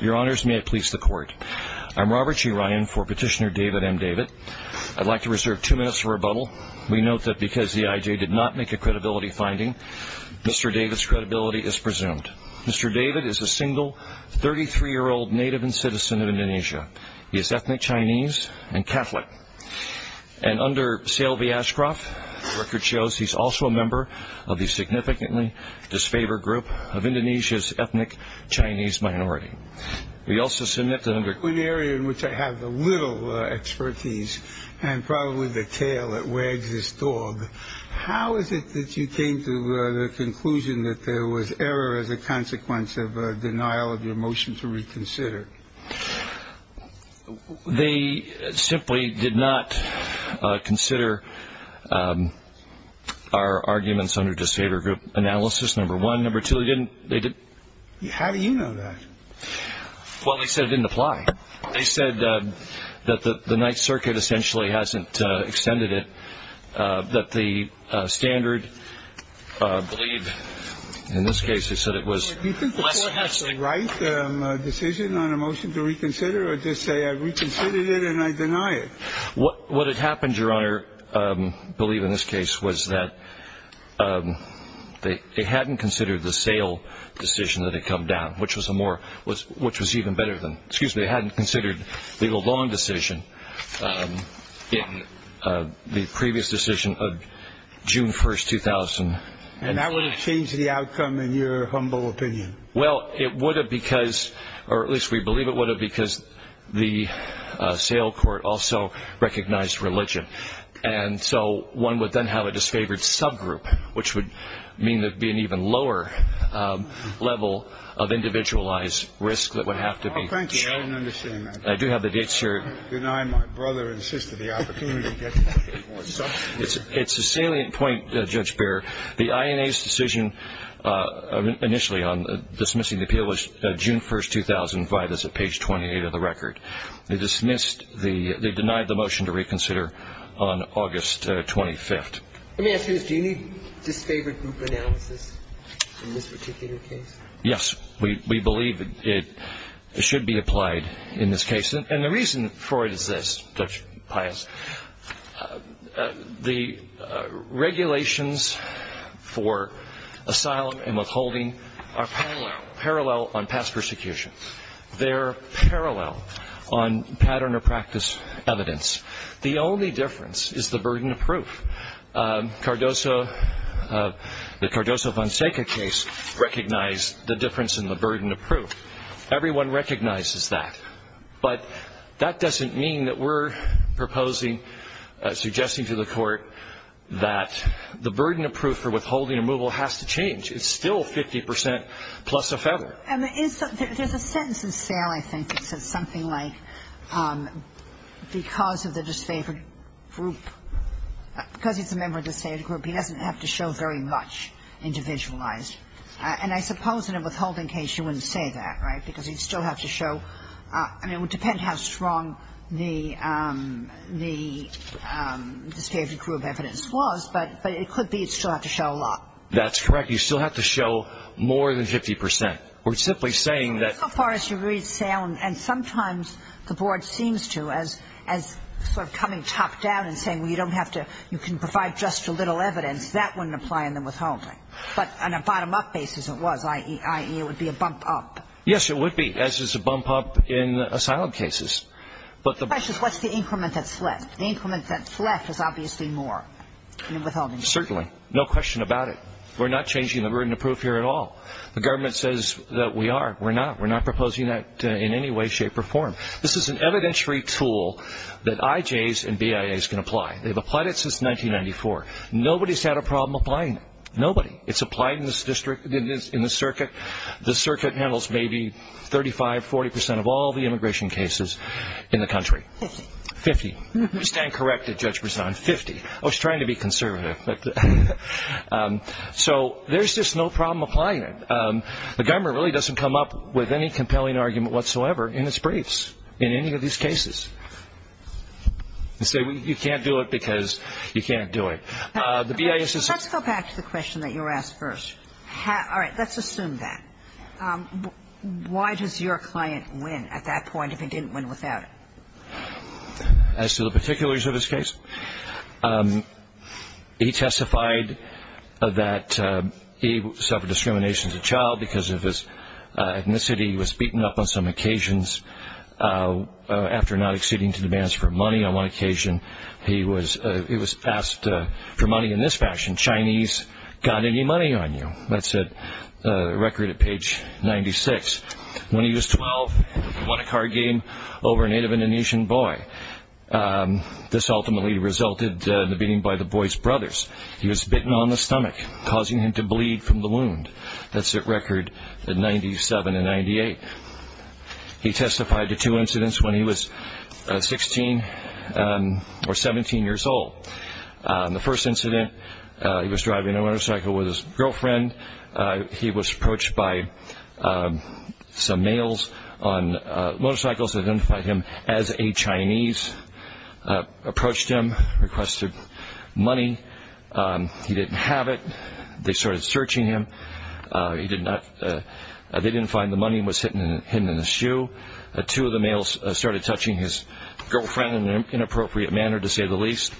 Your honors, may it please the court. I'm Robert G. Ryan for petitioner David M. David. I'd like to reserve two minutes for rebuttal. We note that because the IJ did not make a credibility finding, Mr. David's credibility is presumed. Mr. David is a single, 33-year-old native and citizen of Indonesia. He is ethnic Chinese and Catholic. And under Seel V. Ashcroft, the record shows he's also a member of the significantly disfavored group of Indonesia's ethnic Chinese minority. We also submit that under In an area in which I have little expertise and probably the tail that wags this dog, how is it that you came to the conclusion that there was error as a consequence of denial of your motion to reconsider? They simply did not consider our arguments under disfavored group analysis, number one. Number two, they didn't. How do you know that? Well, they said it didn't apply. They said that the Ninth Circuit essentially hasn't extended it, that the standard, I believe in this case they said it was. Do you think the court has the right decision on a motion to reconsider or just say I reconsidered it and I deny it? What had happened, Your Honor, I believe in this case, was that they hadn't considered the sale decision that had come down, which was a more, which was even better than, excuse me, they hadn't considered legal long decision in the previous decision of June 1st, 2000. And that would have changed the outcome in your humble opinion? Well, it would have because, or at least we believe it would have because the sale court also recognized religion. And so one would then have a disfavored subgroup, which would mean there would be an even lower level of individualized risk that would have to be. Oh, thank you. I don't understand that. I do have the date, sir. Deny my brother and sister the opportunity to get more substance. It's a salient point, Judge Behrer. The INA's decision initially on dismissing the appeal was June 1st, 2005. That's at page 28 of the record. They dismissed the, they denied the motion to reconsider on August 25th. Let me ask you this. Do you need disfavored group analysis in this particular case? Yes. We believe it should be applied in this case. And the reason for it is this, Judge Pius. The regulations for asylum and withholding are parallel, parallel on past persecution. They're parallel on pattern or practice evidence. The only difference is the burden of proof. Cardoso, the Cardoso-Vonseca case recognized the difference in the burden of proof. Everyone recognizes that. But that doesn't mean that we're proposing, suggesting to the court, that the burden of proof for withholding a removal has to change. It's still 50 percent plus a federal. There's a sentence in SAIL, I think, that says something like, because of the disfavored group, because he's a member of the disfavored group, he doesn't have to show very much individualized. And I suppose in a withholding case you wouldn't say that, right, because you'd still have to show, I mean, it would depend how strong the disfavored group evidence was, but it could be you'd still have to show a lot. That's correct. You'd still have to show more than 50 percent. We're simply saying that. So far as you read SAIL, and sometimes the board seems to, as sort of coming top down and saying, well, you don't have to, you can provide just a little evidence, that wouldn't apply in the withholding. But on a bottom-up basis it was, i.e., it would be a bump up. Yes, it would be, as is a bump up in asylum cases. The question is, what's the increment that's left? The increment that's left is obviously more in a withholding case. Certainly. No question about it. We're not changing the burden of proof here at all. The government says that we are. We're not. We're not proposing that in any way, shape, or form. This is an evidentiary tool that IJs and BIAs can apply. They've applied it since 1994. Nobody's had a problem applying it. Nobody. It's applied in the circuit. The circuit handles maybe 35, 40 percent of all the immigration cases in the country. Fifty. Fifty. We stand corrected, Judge Brisson. Fifty. I was trying to be conservative. So there's just no problem applying it. The government really doesn't come up with any compelling argument whatsoever in its briefs in any of these cases. They say you can't do it because you can't do it. The BIA says so. Let's go back to the question that you were asked first. All right. Let's assume that. Why does your client win at that point if he didn't win without it? As to the particulars of his case, he testified that he suffered discrimination as a child because of his ethnicity. He was beaten up on some occasions after not acceding to demands for money. On one occasion, he was asked for money in this fashion, Chinese, got any money on you? That's at record at page 96. When he was 12, he won a card game over a native Indonesian boy. This ultimately resulted in the beating by the boy's brothers. He was bitten on the stomach, causing him to bleed from the wound. That's at record at 97 and 98. He testified to two incidents when he was 16 or 17 years old. The first incident, he was driving a motorcycle with his girlfriend. He was approached by some males on motorcycles that identified him as a Chinese, approached him, requested money. He didn't have it. They started searching him. They didn't find the money. It was hidden in his shoe. Two of the males started touching his girlfriend in an inappropriate manner, to say the least.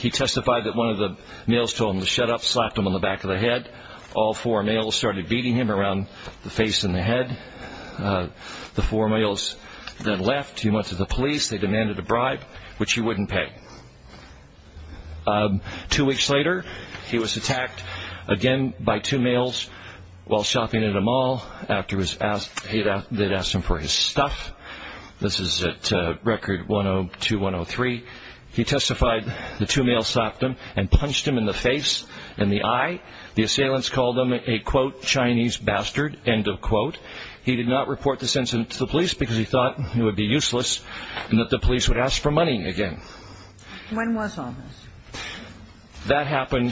He testified that one of the males told him to shut up, slapped him on the back of the head. All four males started beating him around the face and the head. The four males then left. He went to the police. They demanded a bribe, which he wouldn't pay. Two weeks later, he was attacked again by two males while shopping at a mall. They'd asked him for his stuff. This is at record 102, 103. He testified the two males slapped him and punched him in the face and the eye. The assailants called him a, quote, Chinese bastard, end of quote. He did not report this incident to the police because he thought it would be useless and that the police would ask for money again. When was all this? That happened,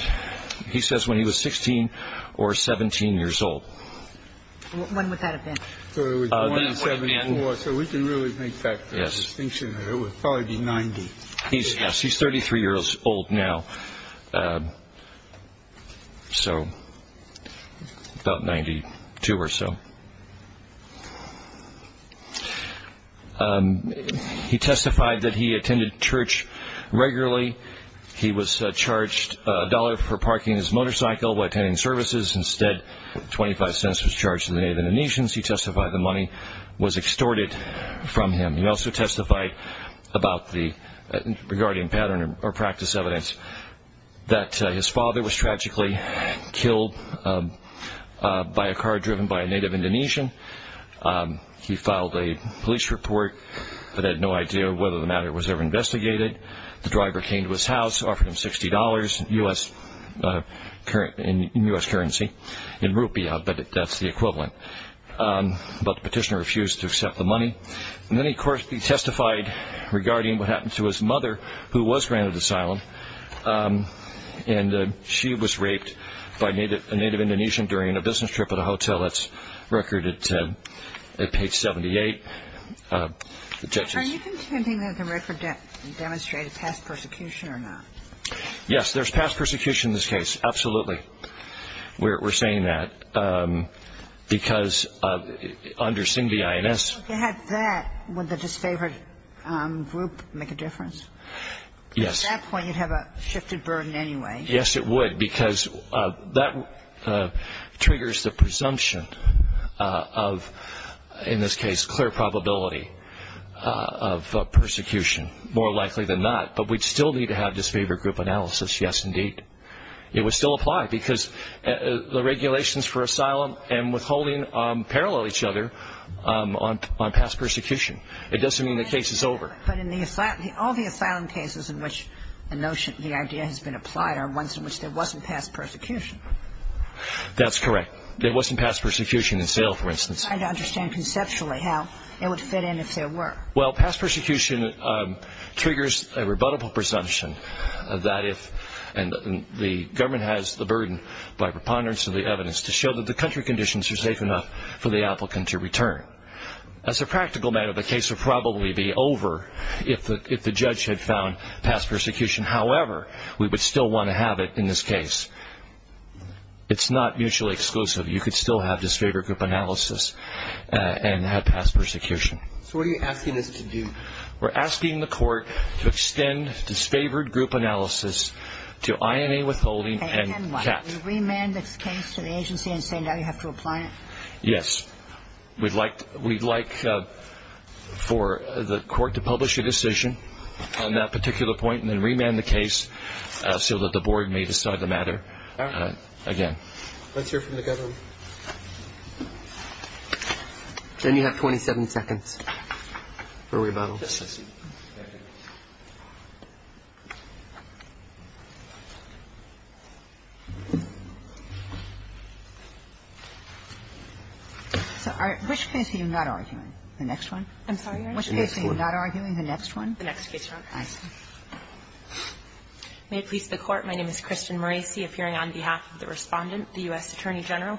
he says, when he was 16 or 17 years old. When would that have been? So it was 1974, so we can really make that distinction. It would probably be 90. Yes, he's 33 years old now, so about 92 or so. He testified that he attended church regularly. He was charged a dollar for parking his motorcycle while attending services. Instead, 25 cents was charged to the Native Indonesians. He testified the money was extorted from him. He also testified regarding pattern or practice evidence that his father was tragically killed by a car driven by a Native Indonesian. He filed a police report but had no idea whether the matter was ever investigated. The driver came to his house, offered him $60 in U.S. currency, in rupiah, but that's the equivalent, but the petitioner refused to accept the money. Then, of course, he testified regarding what happened to his mother, who was granted asylum, and she was raped by a Native Indonesian during a business trip at a hotel. That's recorded at page 78. Are you contending that the record demonstrated past persecution or not? Yes, there's past persecution in this case, absolutely. We're saying that because under Singh v. INS. If you had that, would the disfavored group make a difference? Yes. At that point, you'd have a shifted burden anyway. Yes, it would because that triggers the presumption of, in this case, clear probability of persecution, more likely than not, but we'd still need to have disfavored group analysis, yes, indeed. It would still apply because the regulations for asylum and withholding parallel each other on past persecution. It doesn't mean the case is over. But all the asylum cases in which the idea has been applied are ones in which there wasn't past persecution. That's correct. There wasn't past persecution in Salem, for instance. I don't understand conceptually how it would fit in if there were. Well, past persecution triggers a rebuttable presumption that if, and the government has the burden by preponderance of the evidence to show that the country conditions are safe enough for the applicant to return. As a practical matter, the case would probably be over if the judge had found past persecution. However, we would still want to have it in this case. It's not mutually exclusive. You could still have disfavored group analysis and have past persecution. So what are you asking us to do? We're asking the court to extend disfavored group analysis to INA withholding and CAC. Can we remand this case to the agency and say now you have to apply it? Yes. We'd like for the court to publish a decision on that particular point and then remand the case so that the board may decide the matter again. Let's hear from the government. Then you have 27 seconds for rebuttals. So which case are you not arguing? The next one? I'm sorry, Your Honor? Which case are you not arguing? The next one? The next case, Your Honor. I see. May it please the Court. My name is Kristen Maracy, appearing on behalf of the Respondent, the U.S. Attorney General.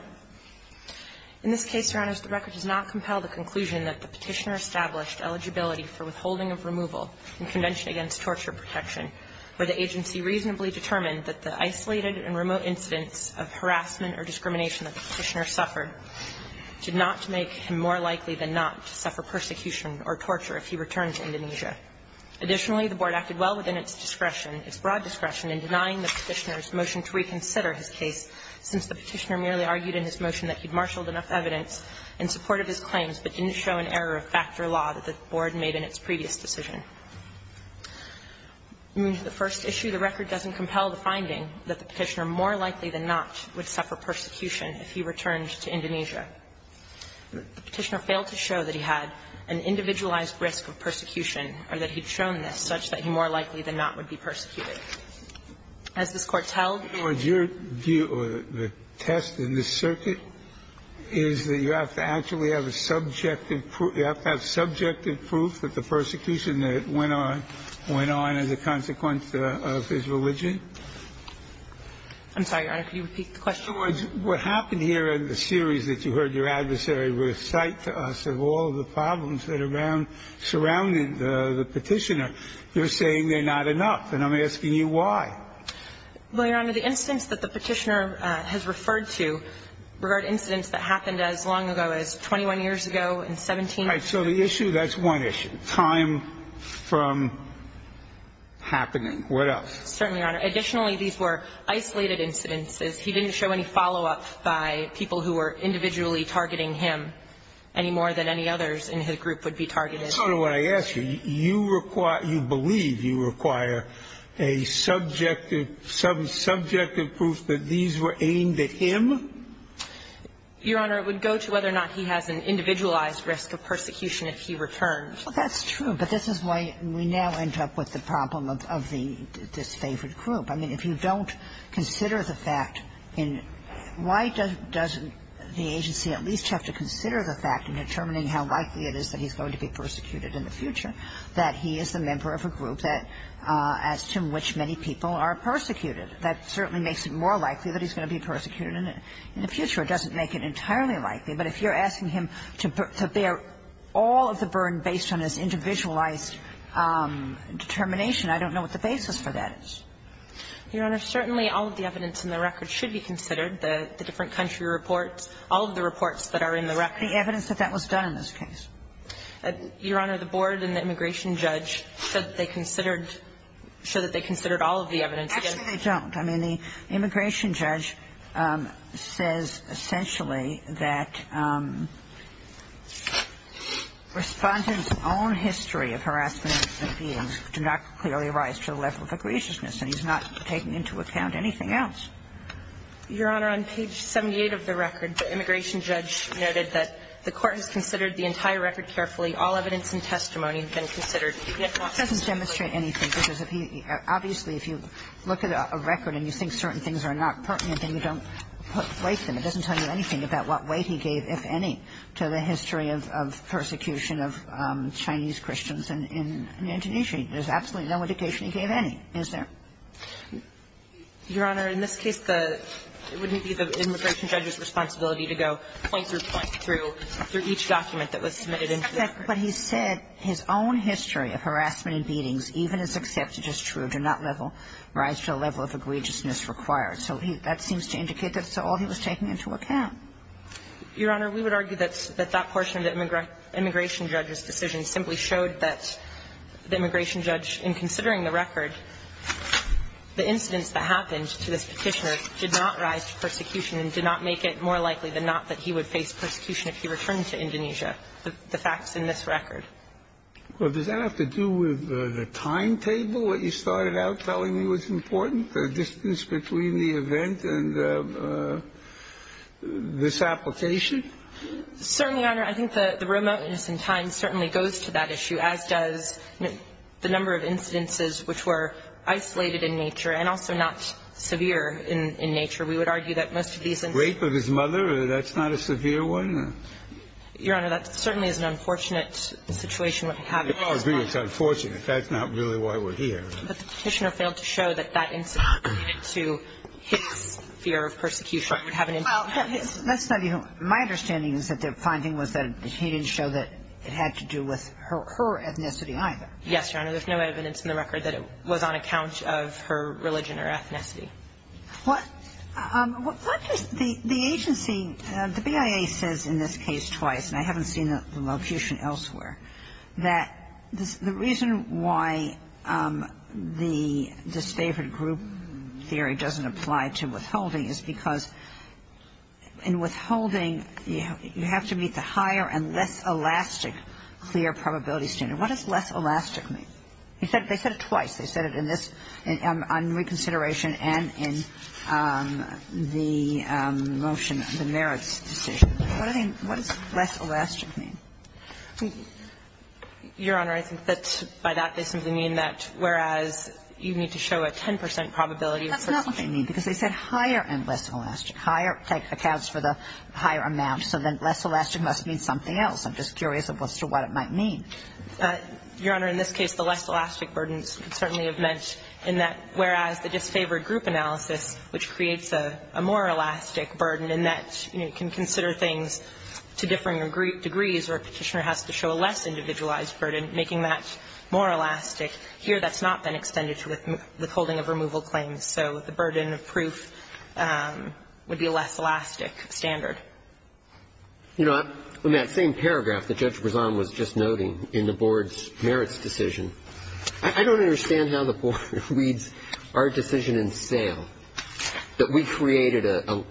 In this case, Your Honor, the record does not compel the conclusion that the Petitioner established eligibility for withholding of removal in Convention Against Torture Protection where the agency reasonably determined that the isolated and remote incidents of harassment or discrimination that the Petitioner suffered did not make him more likely than not to suffer persecution or torture if he returned to Indonesia. Additionally, the board acted well within its discretion, its broad discretion in denying the Petitioner's motion to reconsider his case since the Petitioner merely argued in his motion that he'd marshaled enough evidence in support of his claims, but didn't show an error of factor law that the board made in its previous decision. The first issue, the record doesn't compel the finding that the Petitioner more likely than not would suffer persecution if he returned to Indonesia. The Petitioner failed to show that he had an individualized risk of persecution or that he'd shown this, such that he more likely than not would be persecuted. As this Court tells you to do. The second issue or the test in this circuit is that you have to actually have a subjective proof that the persecution that went on went on as a consequence of his religion. I'm sorry, Your Honor. Could you repeat the question? In other words, what happened here in the series that you heard your adversary recite to us of all the problems that surround the Petitioner, you're saying they're not enough, and I'm asking you why. Well, Your Honor, the incidents that the Petitioner has referred to regard incidents that happened as long ago as 21 years ago and 17 years ago. All right. So the issue, that's one issue. Time from happening. What else? Certainly, Your Honor. Additionally, these were isolated incidences. He didn't show any follow-up by people who were individually targeting him any more than any others in his group would be targeted. That's sort of what I asked you. You require you believe you require a subjective proof that these were aimed at him? Your Honor, it would go to whether or not he has an individualized risk of persecution if he returned. Well, that's true. But this is why we now end up with the problem of the disfavored group. I mean, if you don't consider the fact in why doesn't the agency at least have to consider the fact in determining how likely it is that he's going to be persecuted in the future that he is a member of a group that as to which many people are persecuted. That certainly makes it more likely that he's going to be persecuted in the future. It doesn't make it entirely likely. But if you're asking him to bear all of the burden based on his individualized determination, I don't know what the basis for that is. Your Honor, certainly all of the evidence in the record should be considered. The different country reports, all of the reports that are in the record. The evidence that that was done in this case? Your Honor, the board and the immigration judge said they considered, said that they considered all of the evidence. Actually, they don't. I mean, the immigration judge says essentially that Respondent's own history of harassment and abuse do not clearly rise to the level of egregiousness. And he's not taking into account anything else. Your Honor, on page 78 of the record, the immigration judge noted that the court has considered the entire record carefully. All evidence and testimony have been considered. It doesn't demonstrate anything, because if he – obviously, if you look at a record and you think certain things are not pertinent, then you don't place them. It doesn't tell you anything about what weight he gave, if any, to the history of persecution of Chinese Christians in Indonesia. There's absolutely no indication he gave any, is there? Your Honor, in this case, it would be the immigration judge's responsibility to go point through point through each document that was submitted into the record. But he said his own history of harassment and beatings, even as accepted as true, do not rise to the level of egregiousness required. So that seems to indicate that's all he was taking into account. Your Honor, we would argue that that portion of the immigration judge's decision simply showed that the immigration judge, in considering the record, the incidents that happened to this Petitioner did not rise to persecution and did not make it more likely than not that he would face persecution if he returned to Indonesia, the facts in this record. Well, does that have to do with the timetable, what you started out telling me was this application? Certainly, Your Honor. I think the remoteness in time certainly goes to that issue, as does the number of incidences which were isolated in nature and also not severe in nature. We would argue that most of these incidents... Rape of his mother, that's not a severe one? Your Honor, that certainly is an unfortunate situation. I agree it's unfortunate. That's not really why we're here. But the Petitioner failed to show that that incident related to his fear of persecution would have an impact. Well, let's study him. My understanding is that the finding was that he didn't show that it had to do with her ethnicity either. Yes, Your Honor. There's no evidence in the record that it was on account of her religion or ethnicity. What does the agency, the BIA says in this case twice, and I haven't seen the location elsewhere, that the reason why the disfavored group theory doesn't apply to withholding is because in withholding you have to meet the higher and less elastic clear probability standard. What does less elastic mean? They said it twice. They said it in this, on reconsideration and in the motion, the merits decision. What does less elastic mean? Your Honor, I think that by that they simply mean that whereas you need to show a 10 That's not what they mean, because they said higher and less elastic. Higher accounts for the higher amount, so then less elastic must mean something else. I'm just curious as to what it might mean. Your Honor, in this case, the less elastic burdens certainly have meant in that whereas the disfavored group analysis, which creates a more elastic burden in that you can consider things to differing degrees where a Petitioner has to show a less individualized burden, making that more elastic. Here that's not been extended to withholding of removal claims. So the burden of proof would be a less elastic standard. You know, in that same paragraph that Judge Brezan was just noting in the board's merits decision, I don't understand how the board reads our decision in sale, that we created a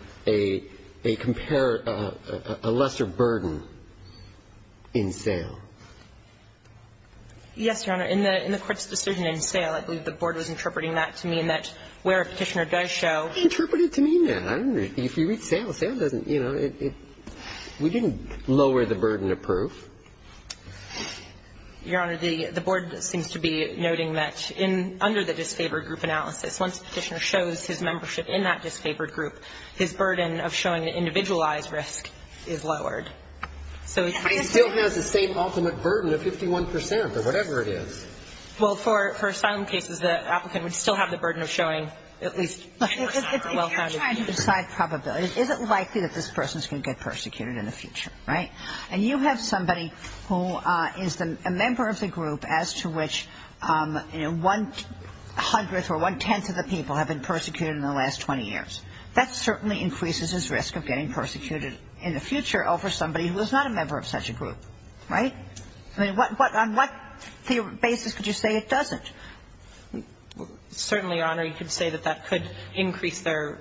lesser burden in sale. Yes, Your Honor. In the court's decision in sale, I believe the board was interpreting that to mean that where a Petitioner does show Interpret it to mean that. I don't know. If you read sale, sale doesn't, you know, we didn't lower the burden of proof. Your Honor, the board seems to be noting that under the disfavored group analysis, once a Petitioner shows his membership in that disfavored group, his burden of showing an individualized risk is lowered. He still has the same ultimate burden of 51 percent or whatever it is. Well, for asylum cases, the applicant would still have the burden of showing at least a well-founded proof. If you're trying to decide probability, is it likely that this person is going to get persecuted in the future, right? And you have somebody who is a member of the group as to which, you know, one hundredth or one-tenth of the people have been persecuted in the last 20 years. That certainly increases his risk of getting persecuted in the future over somebody who is not a member of such a group, right? I mean, what, on what basis could you say it doesn't? Certainly, Your Honor, you could say that that could increase their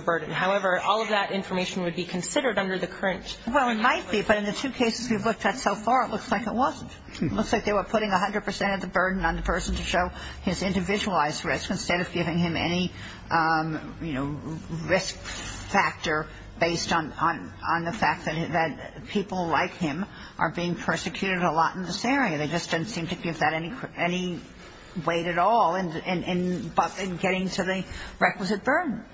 burden. However, all of that information would be considered under the current. Well, it might be. But in the two cases we've looked at so far, it looks like it wasn't. It looks like they were putting 100 percent of the burden on the person to show his risk factor based on the fact that people like him are being persecuted a lot in this area. They just didn't seem to give that any weight at all in getting to the requisite burden.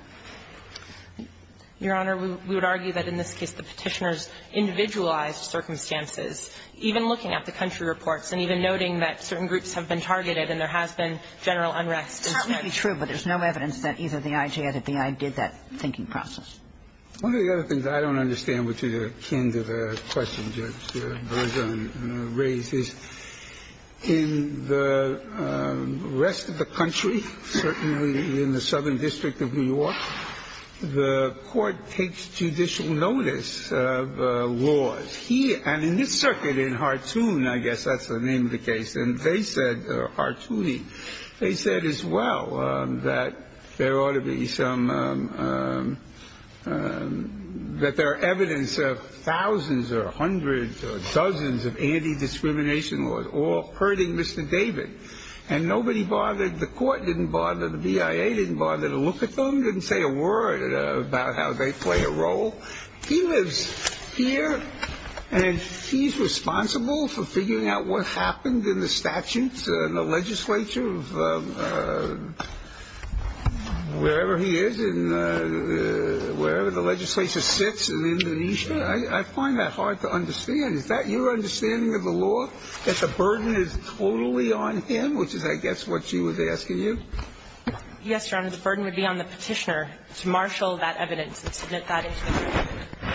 Your Honor, we would argue that in this case the Petitioner's individualized circumstances, even looking at the country reports and even noting that certain groups have been targeted and there has been general unrest. It's certainly true, but there's no evidence that either the I.J. or the B.I. did that thinking process. One of the other things I don't understand, which is akin to the question Judge Bergeron raised, is in the rest of the country, certainly in the Southern District of New York, the Court takes judicial notice of laws. Here, and in this circuit, in Hartoon, I guess that's the name of the case, and they said as well that there ought to be some, that there are evidence of thousands or hundreds or dozens of anti-discrimination laws all hurting Mr. David. And nobody bothered, the court didn't bother, the B.I.A. didn't bother to look at them, didn't say a word about how they play a role. He lives here and he's responsible for figuring out what happened in the statutes and the legislature of wherever he is and wherever the legislature sits in Indonesia. I find that hard to understand. Is that your understanding of the law, that the burden is totally on him, which is, I guess, what she was asking you? Yes, Your Honor. The burden would be on the Petitioner to marshal that evidence and submit that information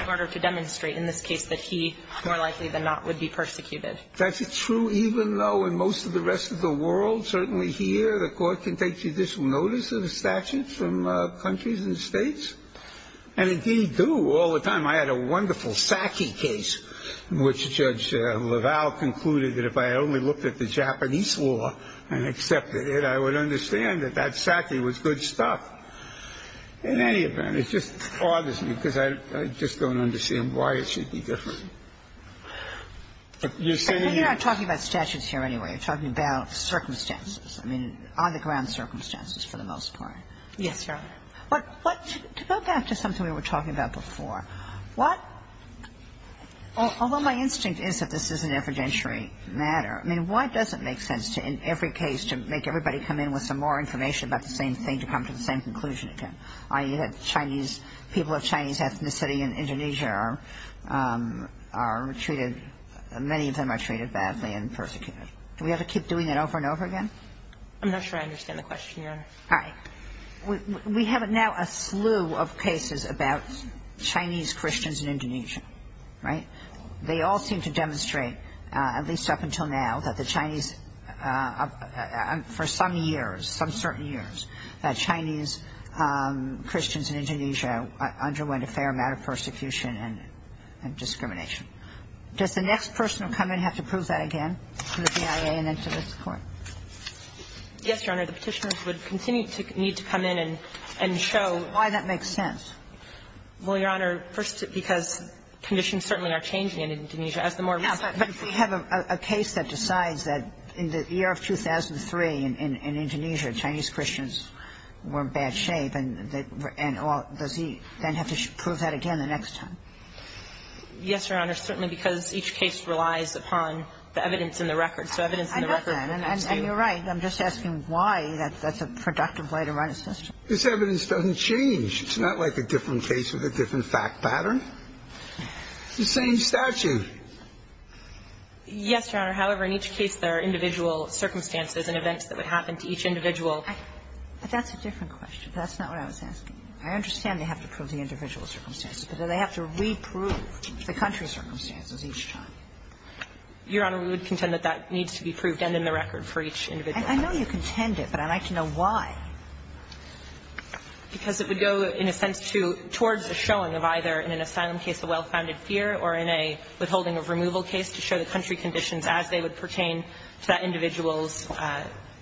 in order to demonstrate in this case that he, more likely than not, would be persecuted. That's true even though in most of the rest of the world, certainly here, the court can take judicial notice of a statute from countries and states, and indeed do. All the time I had a wonderful Saki case in which Judge LaValle concluded that if I only looked at the Japanese law and accepted it, I would understand that that Saki was good stuff. In any event, it just bothers me because I just don't understand why it should be different. You're not talking about statutes here anyway. You're talking about circumstances, I mean, on-the-ground circumstances for the most part. Yes, Your Honor. But to go back to something we were talking about before, what — although my instinct is that this is an evidentiary matter, I mean, why does it make sense to, in every case, to make everybody come in with some more information about the same thing to come to the same conclusion again? I mean, you had Chinese — people of Chinese ethnicity in Indonesia are treated — many of them are treated badly and persecuted. Do we have to keep doing it over and over again? I'm not sure I understand the question, Your Honor. All right. We have now a slew of cases about Chinese Christians in Indonesia, right? They all seem to demonstrate, at least up until now, that the Chinese — for some years, some certain years, that Chinese Christians in Indonesia underwent a fair amount of persecution and discrimination. Does the next person who will come in have to prove that again to the BIA and then to this Court? Yes, Your Honor. The Petitioners would continue to need to come in and show — Why that makes sense. Well, Your Honor, first because conditions certainly are changing in Indonesia as the more recent — But if we have a case that decides that in the year of 2003 in Indonesia, Chinese Christians were in bad shape, and all — does he then have to prove that again the next time? Yes, Your Honor, certainly because each case relies upon the evidence in the record. So evidence in the record — I understand. And you're right. I'm just asking why that's a productive way to run a system. This evidence doesn't change. It's not like a different case with a different fact pattern. It's the same statute. Yes, Your Honor. However, in each case there are individual circumstances and events that would happen to each individual. But that's a different question. That's not what I was asking. I understand they have to prove the individual circumstances, but do they have to reprove the country's circumstances each time? Your Honor, we would contend that that needs to be proved and in the record for each individual case. I know you contend it, but I'd like to know why. Because it would go, in a sense, towards the showing of either in an asylum case a well-founded fear or in a withholding of removal case to show the country conditions as they would pertain to that individual's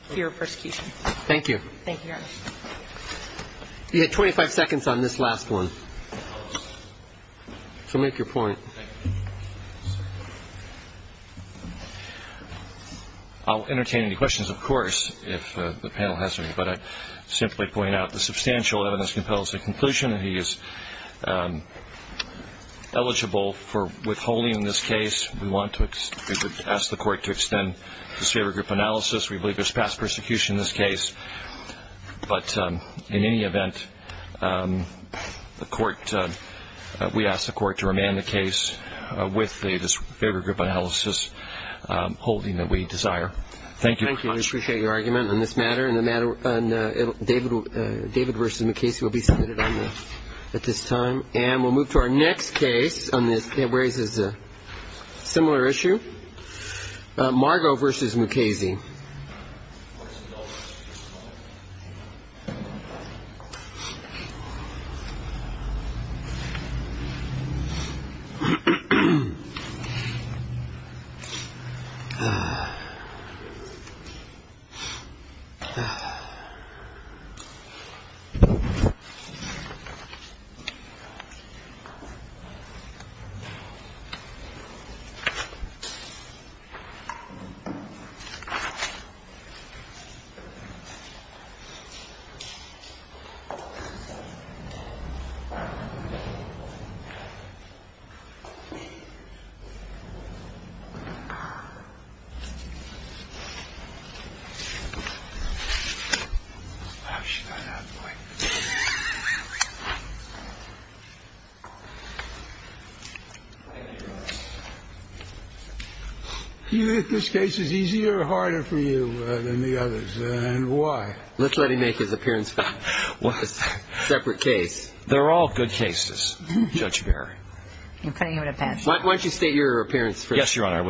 fear of persecution. Thank you. Thank you, Your Honor. You had 25 seconds on this last one, so make your point. Thank you. I'll entertain any questions, of course, if the panel has any. But I'd simply point out the substantial evidence compels the conclusion that he is eligible for withholding in this case. We want to ask the Court to extend disfavored group analysis. We believe there's past persecution in this case. But in any event, we ask the Court to remand the case. With the disfavored group analysis holding that we desire. Thank you. Thank you. We appreciate your argument on this matter. And the matter on David versus Mukasey will be submitted at this time. And we'll move to our next case on this. It raises a similar issue. Margo versus Mukasey. Thank you. Oh, she got out of the way. Do you think this case is easier or harder for you than the others? And why? Let's let him make his appearance on a separate case. They're all good cases, Judge Barry. Why don't you state your appearance first? Yes, Your Honor, I will.